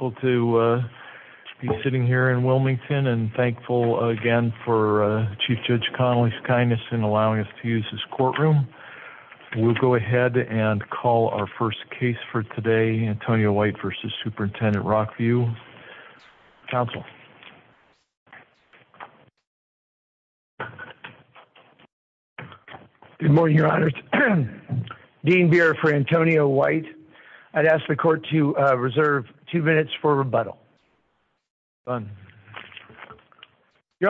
I'm very grateful to be sitting here in Wilmington and thankful again for Chief Judge Connolly's kindness in allowing us to use this courtroom. We'll go ahead and call our first case for today, Antonio White v. Superintendent Rockview. Counsel. Good morning, Your Honors. Dean Beer v. Antonio White. I'd ask the court to reserve two minutes for rebuttal. Your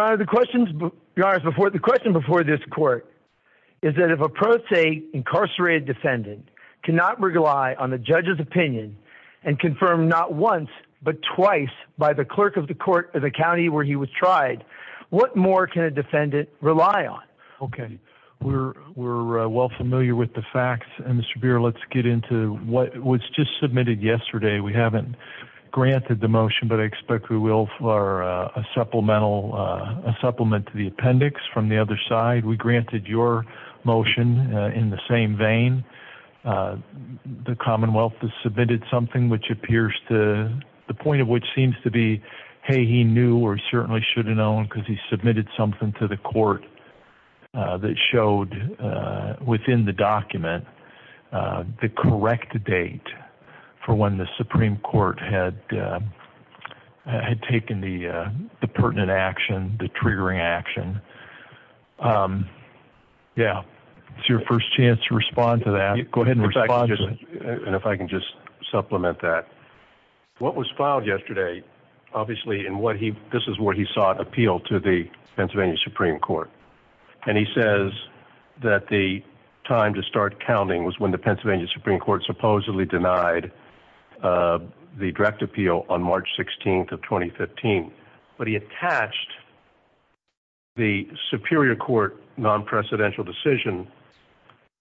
Honor, the question before this court is that if a pro se incarcerated defendant cannot rely on the judge's opinion and confirm not once but twice by the clerk of the court of the county where he was tried, what more can a defendant rely on? Okay, we're well familiar with the facts. And Mr. Beer, let's get into what was just submitted yesterday. We haven't granted the motion, but I expect we will for a supplemental supplement to the appendix from the other side. We granted your motion in the same vein. The commonwealth has submitted something which appears to the point of which seems to be, hey, he knew or certainly should have known because he submitted something to the court that showed within the document the correct date for when the Supreme Court had taken the pertinent action, the triggering action. Yeah. It's your first chance to respond to that. Go ahead and respond. And if I can just supplement that. What was filed yesterday, obviously, and what he this is where he sought appeal to the Pennsylvania Supreme Court. And he says that the time to start counting was when the Pennsylvania Supreme Court supposedly denied the direct appeal on March 16th of 2015. But he attached the Superior Court non-presidential decision,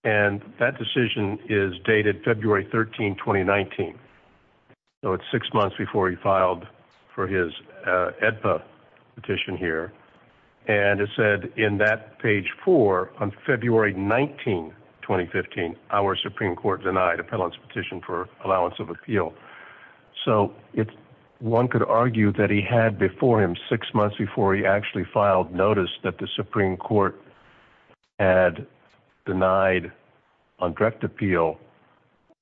and that decision is dated February 13, 2019. So it's six months before he filed for his AEDPA petition here. And it said in that page four on February 19, 2015, our Supreme Court denied a petition for allowance of appeal. So one could argue that he had before him six months before he actually filed notice that the Supreme Court had denied on direct appeal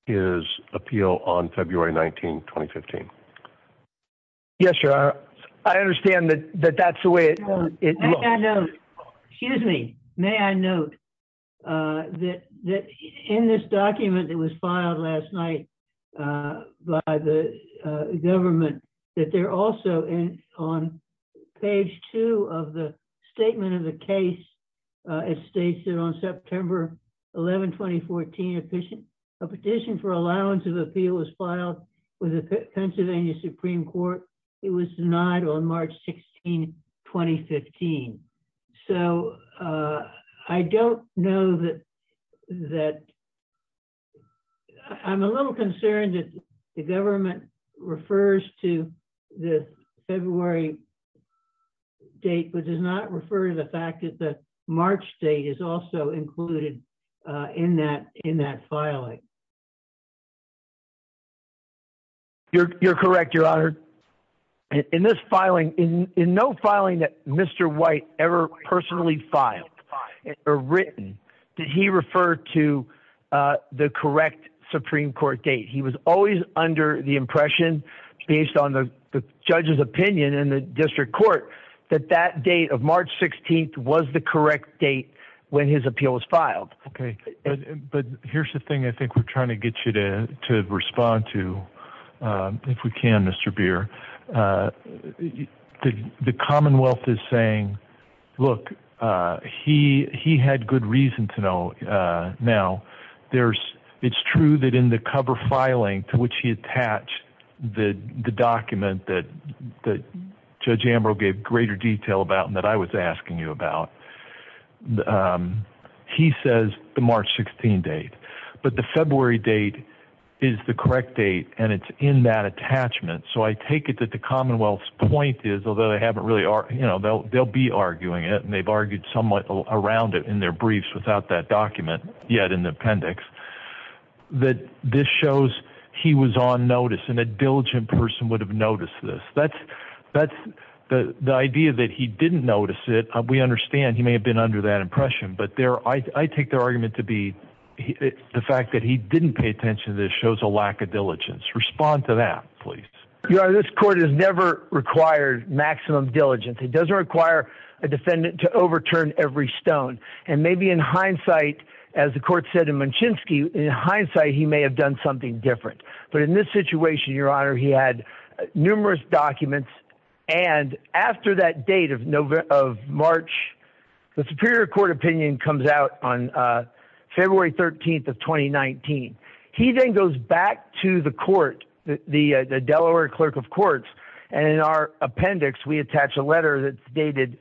his appeal on February 19, 2015. Yes, sir. I understand that that's the way it is. Excuse me. May I note that in this document that was filed last night by the government, that they're also on page two of the statement of the case. It states that on September 11, 2014, a petition for allowance of appeal was filed with the Pennsylvania Supreme Court. It was denied on March 16, 2015. So I don't know that I'm a little concerned that the government refers to the February date, but does not refer to the fact that the March date is also included in that filing. You're correct, Your Honor. In this filing, in no filing that Mr. White ever personally filed or written, did he refer to the correct Supreme Court date? He was always under the impression, based on the judge's opinion in the district court, that that date of March 16th was the correct date when his appeal was filed. Okay. But here's the thing I think we're trying to get you to respond to, if we can, Mr. Beer. The Commonwealth is saying, look, he had good reason to know. Now, it's true that in the cover filing to which he attached the document that Judge Ambrose gave greater detail about and that I was asking you about, he says the March 16 date. But the February date is the correct date, and it's in that attachment. So I take it that the Commonwealth's point is, although they'll be arguing it and they've argued somewhat around it in their briefs without that document yet in the appendix, that this shows he was on notice and a diligent person would have noticed this. The idea that he didn't notice it, we understand he may have been under that impression. But I take their argument to be the fact that he didn't pay attention to this shows a lack of diligence. Respond to that, please. Your Honor, this court has never required maximum diligence. It doesn't require a defendant to overturn every stone. And maybe in hindsight, as the court said in Munchinski, in hindsight he may have done something different. But in this situation, Your Honor, he had numerous documents. And after that date of March, the Superior Court opinion comes out on February 13th of 2019. He then goes back to the court, the Delaware Clerk of Courts. And in our appendix, we attach a letter that's dated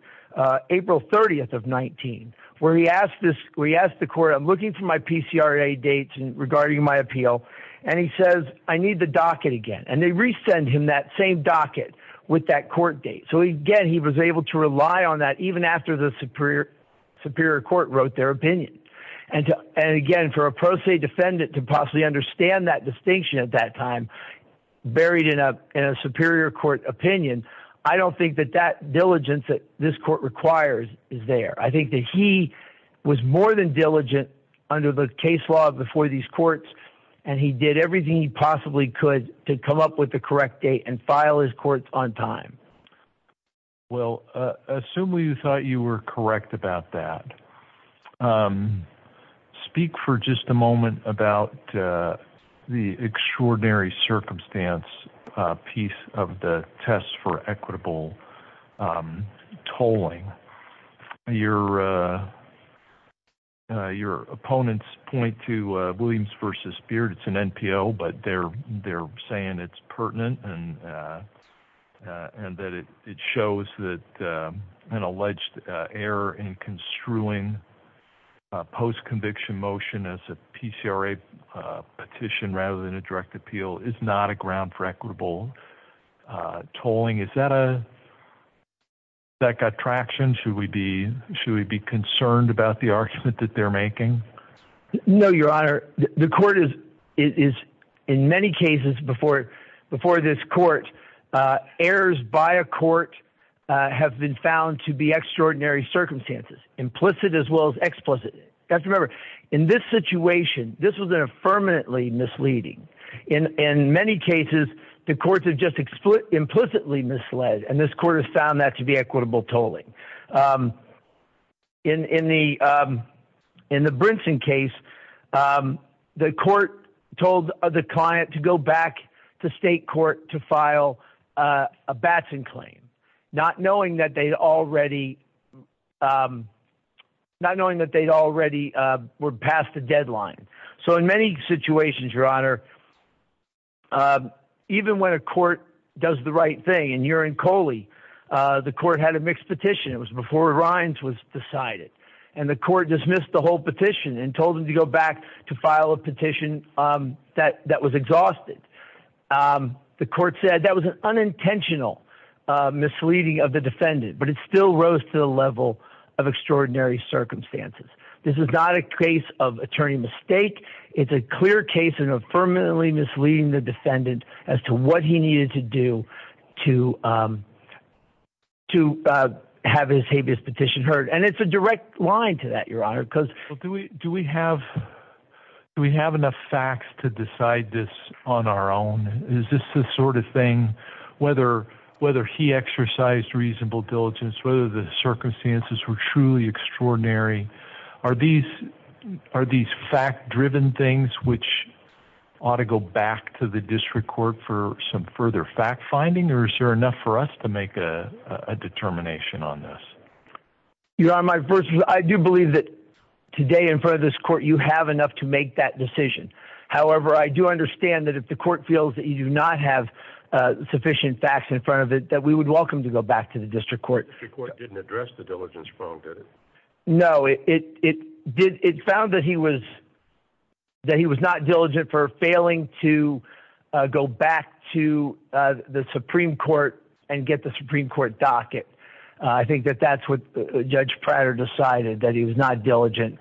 April 30th of 19, where he asked the court, I'm looking for my PCRA dates regarding my appeal. And he says, I need the docket again. And they resend him that same docket with that court date. So again, he was able to rely on that even after the Superior Court wrote their opinion. And again, for a pro se defendant to possibly understand that distinction at that time buried in a Superior Court opinion, I don't think that that diligence that this court requires is there. I think that he was more than diligent under the case law before these courts. And he did everything he possibly could to come up with the correct date and file his courts on time. Well, assume you thought you were correct about that. Speak for just a moment about the extraordinary circumstance piece of the test for equitable tolling. Your opponents point to Williams v. Beard. It's an NPO, but they're saying it's pertinent and that it shows that an alleged error in construing post-conviction motion as a PCRA petition rather than a direct appeal is not a ground for equitable tolling. Is that got traction? Should we be concerned about the argument that they're making? No, Your Honor. The court is, in many cases before this court, errors by a court have been found to be extraordinary circumstances, implicit as well as explicit. You have to remember, in this situation, this was an affirmatively misleading. In many cases, the courts have just implicitly misled, and this court has found that to be equitable tolling. In the Brinson case, the court told the client to go back to state court to file a Batson claim, not knowing that they already were past the deadline. So in many situations, Your Honor, even when a court does the right thing, and you're in Coley, the court had a mixed petition. It was before Rhines was decided, and the court dismissed the whole petition and told them to go back to file a petition that was exhausted. The court said that was an unintentional misleading of the defendant, but it still rose to the level of extraordinary circumstances. This is not a case of attorney mistake. It's a clear case of affirmatively misleading the defendant as to what he needed to do to have his habeas petition heard. And it's a direct line to that, Your Honor. Do we have enough facts to decide this on our own? Is this the sort of thing, whether he exercised reasonable diligence, whether the circumstances were truly extraordinary, are these fact-driven things which ought to go back to the district court for some further fact-finding? Or is there enough for us to make a determination on this? Your Honor, I do believe that today in front of this court, you have enough to make that decision. However, I do understand that if the court feels that you do not have sufficient facts in front of it, that we would welcome to go back to the district court. The district court didn't address the diligence wrong, did it? No. It found that he was not diligent for failing to go back to the Supreme Court and get the Supreme Court docket. I think that that's what Judge Prater decided, that he was not diligent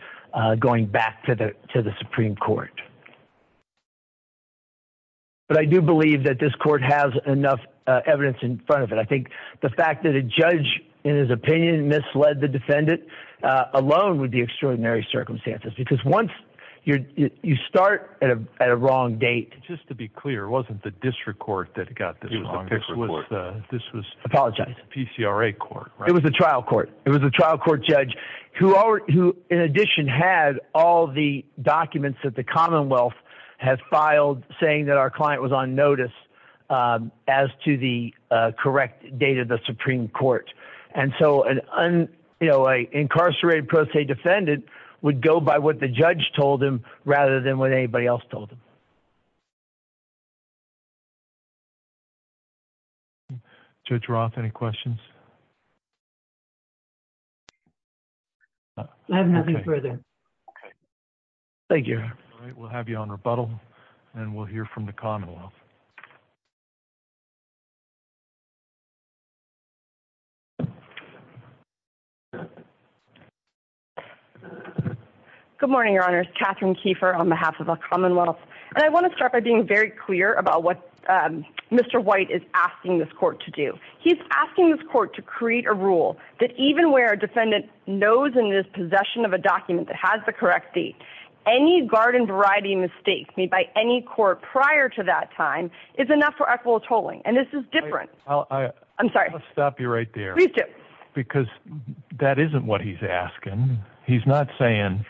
going back to the Supreme Court. But I do believe that this court has enough evidence in front of it. I think the fact that a judge, in his opinion, misled the defendant alone would be extraordinary circumstances because once you start at a wrong date… Just to be clear, it wasn't the district court that got this wrong. It was the district court. Apologize. PCRA court. It was the trial court. It was the trial court judge who, in addition, had all the documents that the Commonwealth has filed saying that our client was on notice as to the correct date of the Supreme Court. And so an incarcerated pro se defendant would go by what the judge told him rather than what anybody else told him. Judge Roth, any questions? I have nothing further. Thank you. We'll have you on rebuttal and we'll hear from the Commonwealth. Good morning, Your Honor. It's Catherine Keefer on behalf of the Commonwealth. And I want to start by being very clear about what Mr. White is asking this court to do. He's asking this court to create a rule that even where a defendant knows and is in possession of a document that has the correct date, any garden variety mistake made by any court prior to that time is enough for equitable tolling. And this is different. I'm sorry. I'll stop you right there. Please do. Because that isn't what he's asking. He's not saying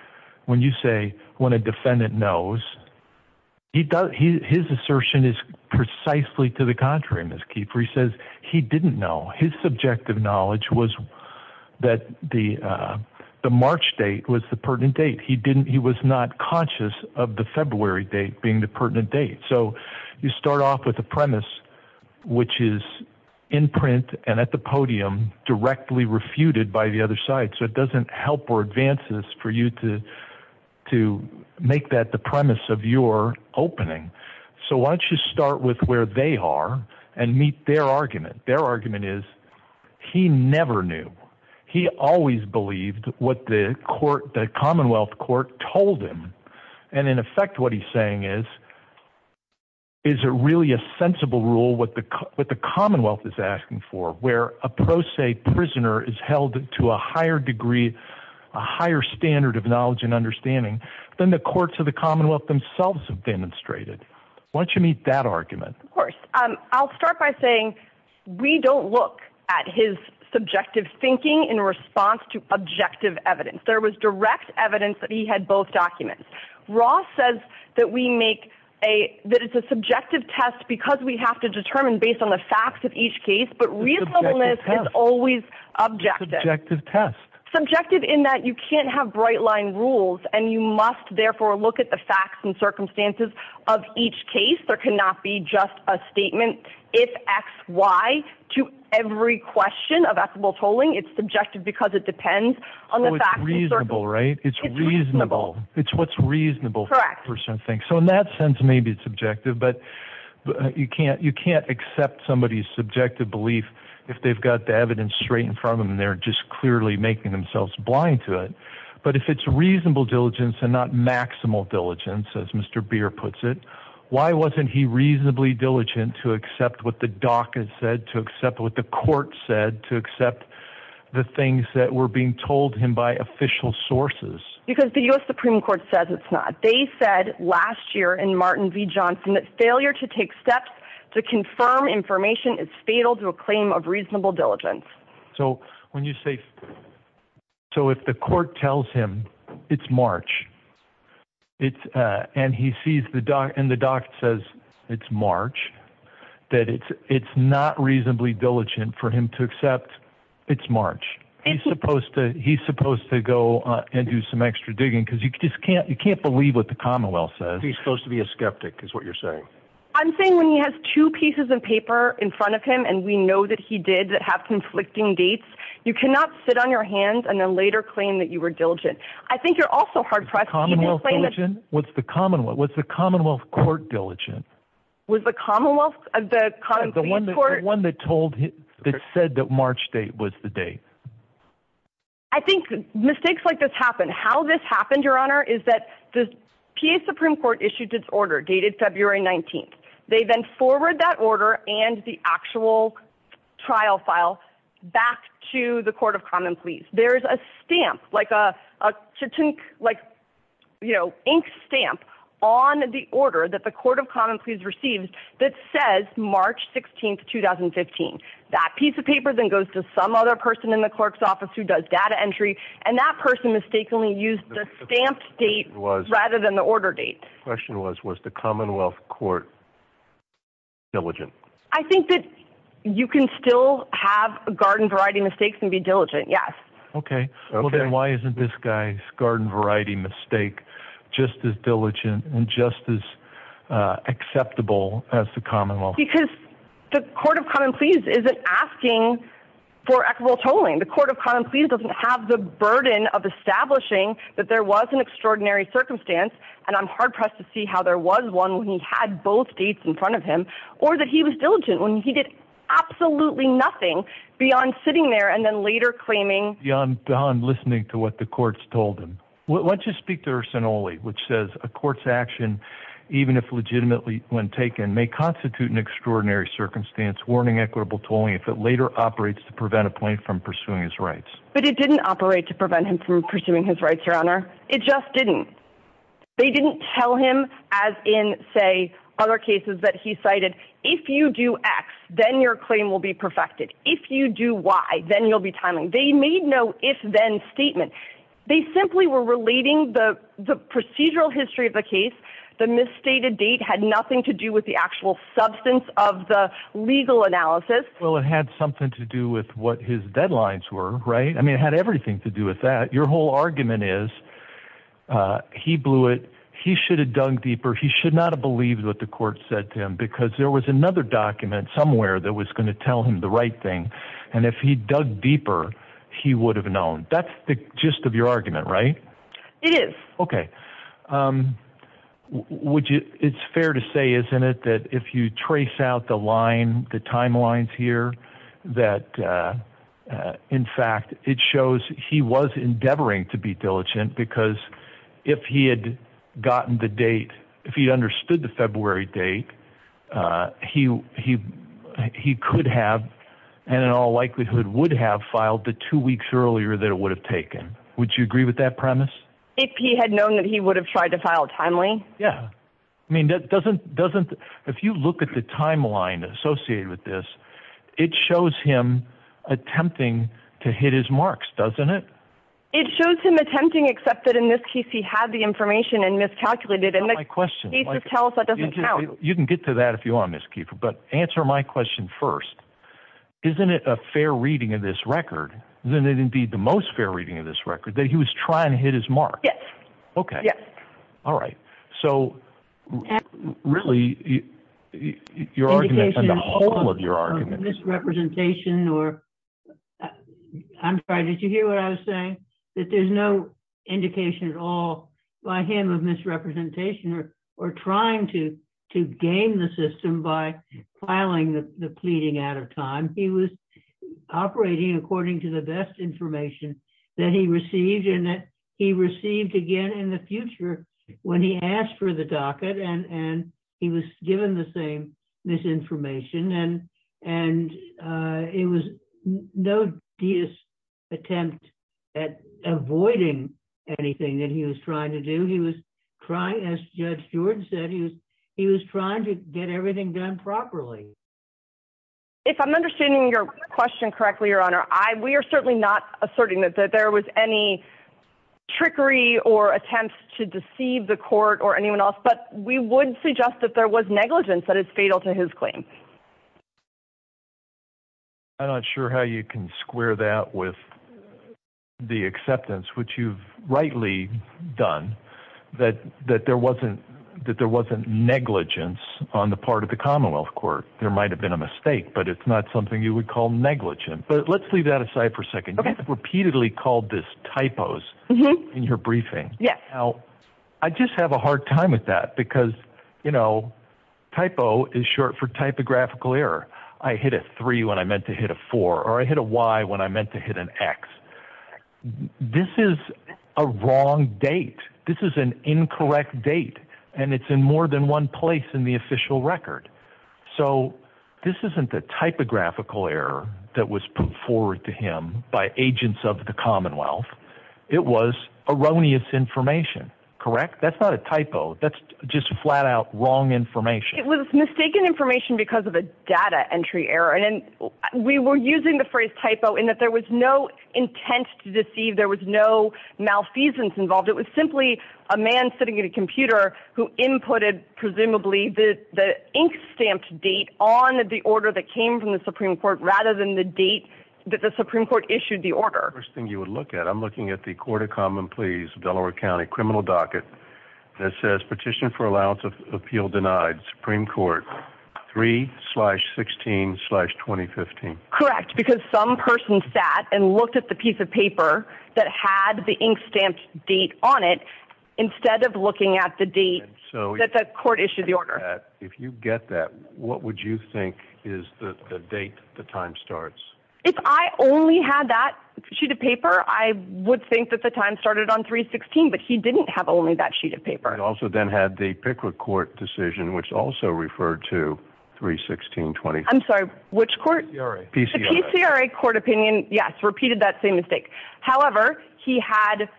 when you say when a defendant knows, his assertion is precisely to the contrary, Ms. Keefer. He says he didn't know. His subjective knowledge was that the March date was the pertinent date. He was not conscious of the February date being the pertinent date. So you start off with a premise which is in print and at the podium directly refuted by the other side. So it doesn't help or advance this for you to make that the premise of your opening. So why don't you start with where they are and meet their argument. Their argument is he never knew. He always believed what the Commonwealth court told him. And, in effect, what he's saying is, is it really a sensible rule what the Commonwealth is asking for, where a pro se prisoner is held to a higher degree, a higher standard of knowledge and understanding, than the courts of the Commonwealth themselves have demonstrated. Why don't you meet that argument? Of course. I'll start by saying we don't look at his subjective thinking in response to objective evidence. There was direct evidence that he had both documents. Ross says that we make a, that it's a subjective test because we have to determine based on the facts of each case, but reasonableness is always objective. Subjective test. Subjective in that you can't have bright line rules, and you must therefore look at the facts and circumstances of each case. There cannot be just a statement, if X, Y, to every question of equitable tolling. It's subjective because it depends on the facts. It's reasonable, right? It's reasonable. It's what's reasonable for that person to think. So in that sense, maybe it's subjective, but you can't accept somebody's subjective belief if they've got the evidence straight in front of them and they're just clearly making themselves blind to it. But if it's reasonable diligence and not maximal diligence, as Mr. Beer puts it, why wasn't he reasonably diligent to accept what the DACA said, to accept what the court said, to accept the things that were being told him by official sources? Because the U.S. Supreme Court says it's not. They said last year in Martin v. Johnson that failure to take steps to confirm information is fatal to a claim of reasonable diligence. So if the court tells him it's March and the doc says it's March, that it's not reasonably diligent for him to accept it's March, he's supposed to go and do some extra digging because you can't believe what the Commonwealth says. He's supposed to be a skeptic is what you're saying. I'm saying when he has two pieces of paper in front of him and we know that he did have conflicting dates, you cannot sit on your hands and then later claim that you were diligent. I think you're also hard-pressed. Was the Commonwealth court diligent? Was the Commonwealth, the Commonwealth court? The one that said that March date was the date. I think mistakes like this happen. How this happened, Your Honor, is that the PA Supreme Court issued its order dated February 19th. They then forward that order and the actual trial file back to the Court of Common Pleas. There's a stamp, like an ink stamp on the order that the Court of Common Pleas received that says March 16th, 2015. That piece of paper then goes to some other person in the clerk's office who does data entry, and that person mistakenly used the stamped date rather than the order date. The question was, was the Commonwealth court diligent? I think that you can still have garden variety mistakes and be diligent, yes. Okay. Then why isn't this guy's garden variety mistake just as diligent and just as acceptable as the Commonwealth? Because the Court of Common Pleas isn't asking for equitable tolling. The Court of Common Pleas doesn't have the burden of establishing that there was an extraordinary circumstance, and I'm hard-pressed to see how there was one when he had both dates in front of him, or that he was diligent when he did absolutely nothing beyond sitting there and then later claiming. Beyond listening to what the courts told him, why don't you speak to Ursinoli, which says a court's action, even if legitimately when taken, may constitute an extraordinary circumstance, warning equitable tolling if it later operates to prevent a plaintiff from pursuing his rights. But it didn't operate to prevent him from pursuing his rights, Your Honor. It just didn't. They didn't tell him, as in, say, other cases that he cited, if you do X, then your claim will be perfected. If you do Y, then you'll be timing. They made no if-then statement. They simply were relating the procedural history of the case. The misstated date had nothing to do with the actual substance of the legal analysis. Well, it had something to do with what his deadlines were, right? I mean, it had everything to do with that. Your whole argument is he blew it, he should have dug deeper, he should not have believed what the court said to him because there was another document somewhere that was going to tell him the right thing, and if he'd dug deeper, he would have known. That's the gist of your argument, right? It is. Okay. It's fair to say, isn't it, that if you trace out the timeline here, that, in fact, it shows he was endeavoring to be diligent because if he had gotten the date, if he understood the February date, he could have, and in all likelihood would have, filed the two weeks earlier that it would have taken. Would you agree with that premise? If he had known that he would have tried to file timely? Yeah. I mean, doesn't, if you look at the timeline associated with this, it shows him attempting to hit his marks, doesn't it? It shows him attempting, except that in this case he had the information and miscalculated. That's not my question. You can get to that if you want, Ms. Keefer, but answer my question first. Isn't it a fair reading of this record, isn't it indeed the most fair reading of this record, that he was trying to hit his mark? Yes. Okay. Yes. All right. So, really, your argument and the whole of your argument. Misrepresentation or, I'm sorry, did you hear what I was saying? That there's no indication at all by him of misrepresentation or trying to game the system by filing the pleading out of time. He was operating according to the best information that he received and that he received again in the future when he asked for the docket and he was given the same misinformation. And it was no attempt at avoiding anything that he was trying to do. As Judge Stewart said, he was trying to get everything done properly. If I'm understanding your question correctly, Your Honor, we are certainly not asserting that there was any trickery or attempt to deceive the court or anyone else, but we would suggest that there was negligence that is fatal to his claim. I'm not sure how you can square that with the acceptance, which you've rightly done, that there wasn't negligence on the part of the Commonwealth Court. There might have been a mistake, but it's not something you would call negligent. But let's leave that aside for a second. You have repeatedly called this typos in your briefing. Yes. Now, I just have a hard time with that because, you know, typo is short for typographical error. I hit a three when I meant to hit a four, or I hit a Y when I meant to hit an X. This is a wrong date. This is an incorrect date, and it's in more than one place in the official record. So this isn't the typographical error that was put forward to him by agents of the Commonwealth. It was erroneous information, correct? That's not a typo. That's just flat-out wrong information. It was mistaken information because of a data entry error. And we were using the phrase typo in that there was no intent to deceive. There was no malfeasance involved. It was simply a man sitting at a computer who inputted presumably the ink-stamped date on the order that came from the Supreme Court rather than the date that the Supreme Court issued the order. The first thing you would look at, I'm looking at the Court of Common Pleas, Delaware County, criminal docket, that says Petition for Allowance of Appeal Denied, Supreme Court, 3-16-2015. Correct, because some person sat and looked at the piece of paper that had the ink-stamped date on it instead of looking at the date that the court issued the order. If you get that, what would you think is the date the time starts? If I only had that sheet of paper, I would think that the time started on 3-16, but he didn't have only that sheet of paper. He also then had the Pickwick Court decision, which also referred to 3-16-2015. I'm sorry, which court? PCRA. The PCRA court opinion, yes, repeated that same mistake. However, he had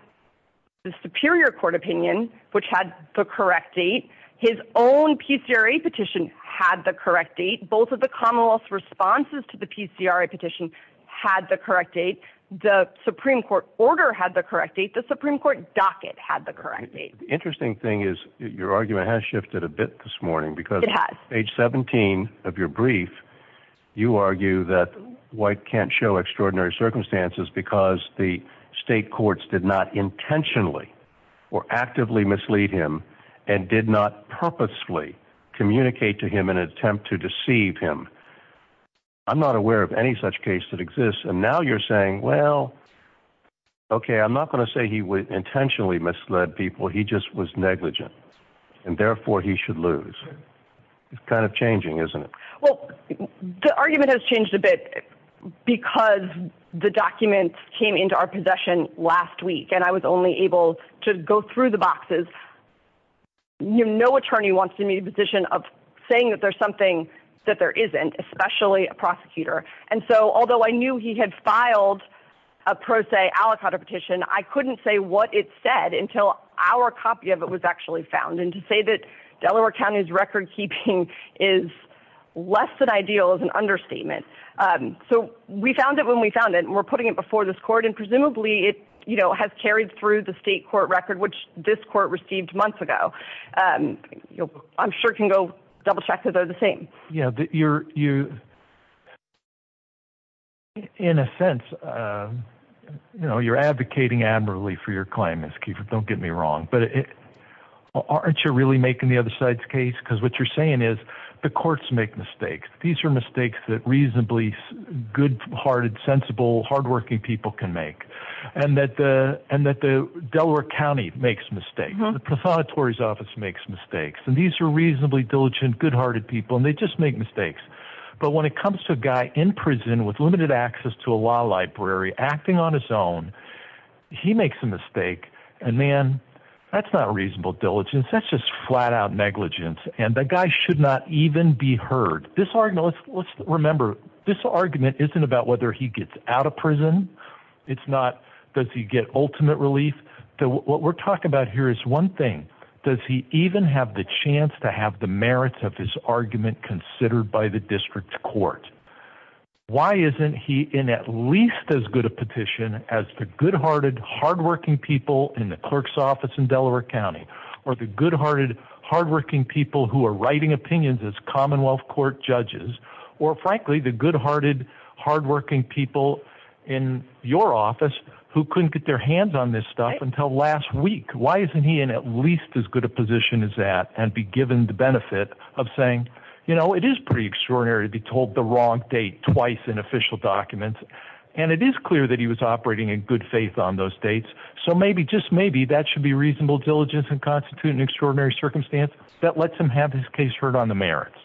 the Superior Court opinion, which had the correct date. His own PCRA petition had the correct date. Both of the Commonwealth's responses to the PCRA petition had the correct date. The Supreme Court order had the correct date. The Supreme Court docket had the correct date. The interesting thing is your argument has shifted a bit this morning. It has. Because page 17 of your brief, you argue that White can't show extraordinary circumstances because the state courts did not intentionally or actively mislead him and did not purposefully communicate to him in an attempt to deceive him. I'm not aware of any such case that exists, and now you're saying, well, okay, I'm not going to say he intentionally misled people. He just was negligent, and therefore he should lose. It's kind of changing, isn't it? Well, the argument has changed a bit because the documents came into our possession last week, and I was only able to go through the boxes. No attorney wants to be in a position of saying that there's something that there isn't, especially a prosecutor. And so although I knew he had filed a pro se aliquot or petition, I couldn't say what it said until our copy of it was actually found, and to say that Delaware County's recordkeeping is less than ideal is an understatement. So we found it when we found it, and we're putting it before this court, and presumably it has carried through the state court record, which this court received months ago. I'm sure I can go double-check that they're the same. Yeah, you're, in a sense, you're advocating admirably for your claim. Don't get me wrong. But aren't you really making the other side's case? Because what you're saying is the courts make mistakes. These are mistakes that reasonably good-hearted, sensible, hard-working people can make, and that the Delaware County makes mistakes. The Prosecutor's Office makes mistakes. And these are reasonably diligent, good-hearted people, and they just make mistakes. But when it comes to a guy in prison with limited access to a law library acting on his own, he makes a mistake, and, man, that's not reasonable diligence. That's just flat-out negligence, and that guy should not even be heard. This argument, let's remember, this argument isn't about whether he gets out of prison. It's not does he get ultimate relief. What we're talking about here is one thing. Does he even have the chance to have the merits of his argument considered by the district court? Why isn't he in at least as good a petition as the good-hearted, hard-working people in the clerk's office in Delaware County or the good-hearted, hard-working people who are writing opinions as Commonwealth Court judges or, frankly, the good-hearted, hard-working people in your office who couldn't get their hands on this stuff until last week? Why isn't he in at least as good a position as that and be given the benefit of saying, you know, it is pretty extraordinary to be told the wrong date twice in official documents, and it is clear that he was operating in good faith on those dates, so maybe, just maybe, that should be reasonable diligence and constitute an extraordinary circumstance that lets him have his case heard on the merits.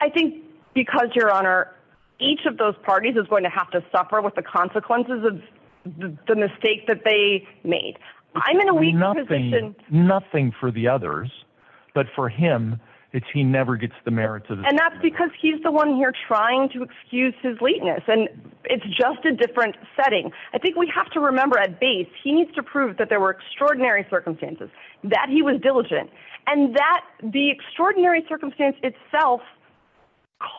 I think because, Your Honor, each of those parties is going to have to suffer with the consequences of the mistake that they made. I'm in a weak position. Nothing for the others, but for him, it's he never gets the merits of his argument. And that's because he's the one here trying to excuse his lateness, and it's just a different setting. I think we have to remember at base he needs to prove that there were extraordinary circumstances, that he was diligent, and that the extraordinary circumstance itself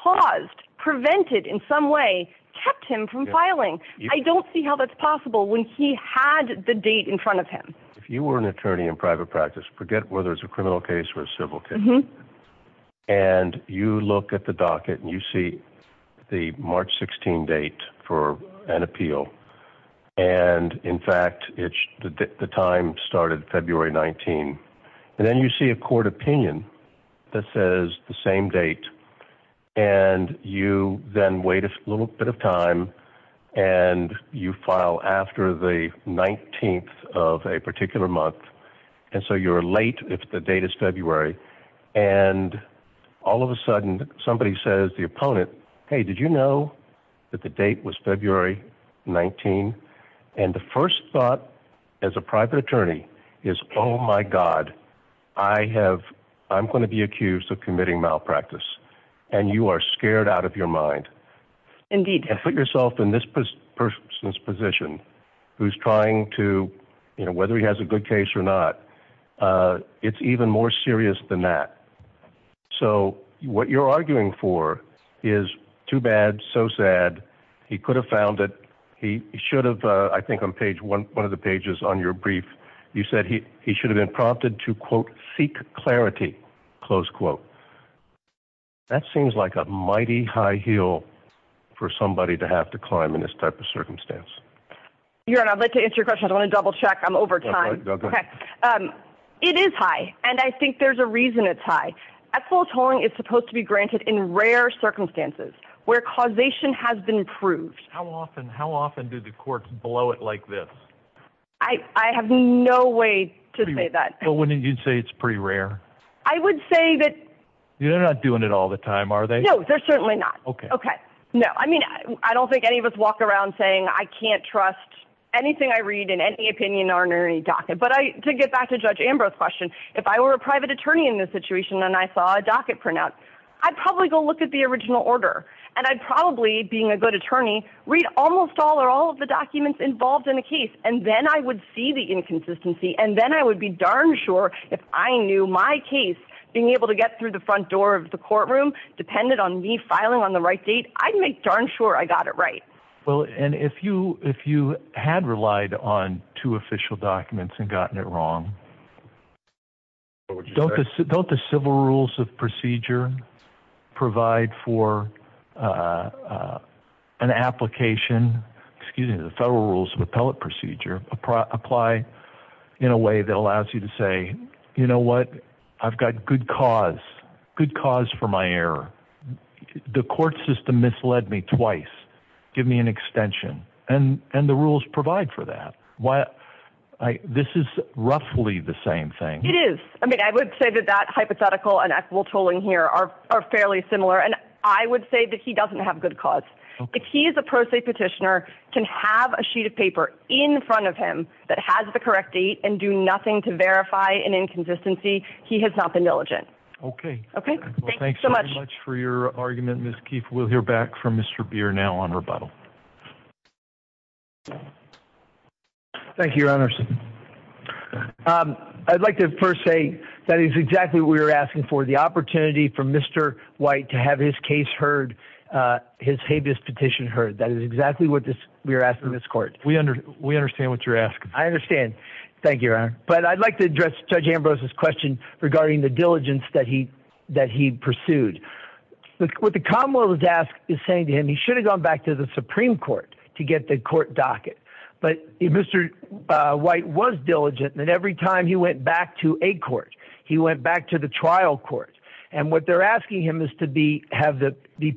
caused, prevented in some way, kept him from filing. I don't see how that's possible when he had the date in front of him. If you were an attorney in private practice, forget whether it's a criminal case or a civil case, and you look at the docket and you see the March 16 date for an appeal, and, in fact, the time started February 19, and then you see a court opinion that says the same date, and you then wait a little bit of time, and you file after the 19th of a particular month, and so you're late if the date is February, and all of a sudden somebody says to the opponent, hey, did you know that the date was February 19? And the first thought as a private attorney is, oh, my God, I'm going to be accused of committing malpractice, and you are scared out of your mind. Indeed. And put yourself in this person's position who's trying to, you know, whether he has a good case or not, it's even more serious than that. So what you're arguing for is too bad, so sad, he could have found it, he should have, I think, on page one of the pages on your brief, you said he should have been prompted to, quote, seek clarity, close quote. That seems like a mighty high heel for somebody to have to climb in this type of circumstance. Your Honor, I'd like to answer your question. I want to double check. I'm over time. Go ahead. It is high, and I think there's a reason it's high. Ethical tolling is supposed to be granted in rare circumstances where causation has been proved. How often do the courts blow it like this? I have no way to say that. But wouldn't you say it's pretty rare? I would say that. You're not doing it all the time, are they? No, they're certainly not. Okay. Okay. No, I mean, I don't think any of us walk around saying I can't trust anything I read in any opinion or in any docket. But to get back to Judge Ambrose's question, if I were a private attorney in this situation and I saw a docket printout, I'd probably go look at the original order, and I'd probably, being a good attorney, read almost all or all of the documents involved in a case, and then I would see the inconsistency, and then I would be darn sure if I knew my case being able to get through the front door of the courtroom depended on me filing on the right date, I'd make darn sure I got it right. Well, and if you had relied on two official documents and gotten it wrong, don't the civil rules of procedure provide for an application, excuse me, the federal rules of appellate procedure apply in a way that allows you to say, you know what, I've got good cause, good cause for my error. The court system misled me twice. Give me an extension. And the rules provide for that. This is roughly the same thing. It is. I mean, I would say that that hypothetical and equitable tooling here are fairly similar, and I would say that he doesn't have good cause. If he is a pro se petitioner, can have a sheet of paper in front of him that has the correct date and do nothing to verify an inconsistency, he has not been diligent. Okay. Okay. Thanks so much for your argument, Ms. Keefe. We'll hear back from Mr. Beer now on rebuttal. Thank you, Your Honors. I'd like to first say that is exactly what we were asking for, the opportunity for Mr. White to have his case heard, his habeas petition heard. That is exactly what we were asking this court. We understand what you're asking. I understand. Thank you, Your Honor. But I'd like to address Judge Ambrose's question regarding the diligence that he pursued. What the Commonwealth is saying to him, he should have gone back to the Supreme Court to get the court docket. But Mr. White was diligent, and every time he went back to a court, he went back to the trial court. And what they're asking him is to be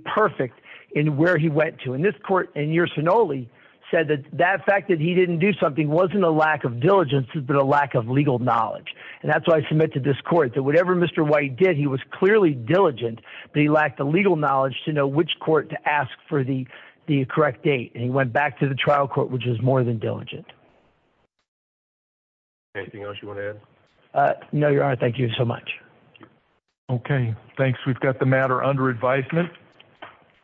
perfect in where he went to. And this court in Yersinoli said that that fact that he didn't do something wasn't a lack of diligence, it was a lack of legal knowledge. And that's why I submit to this court that whatever Mr. White did, he was clearly diligent, but he lacked the legal knowledge to know which court to ask for the correct date. And he went back to the trial court, which is more than diligent. Anything else you want to add? No, Your Honor. Thank you so much. Okay. Thanks. We've got the matter under advisement.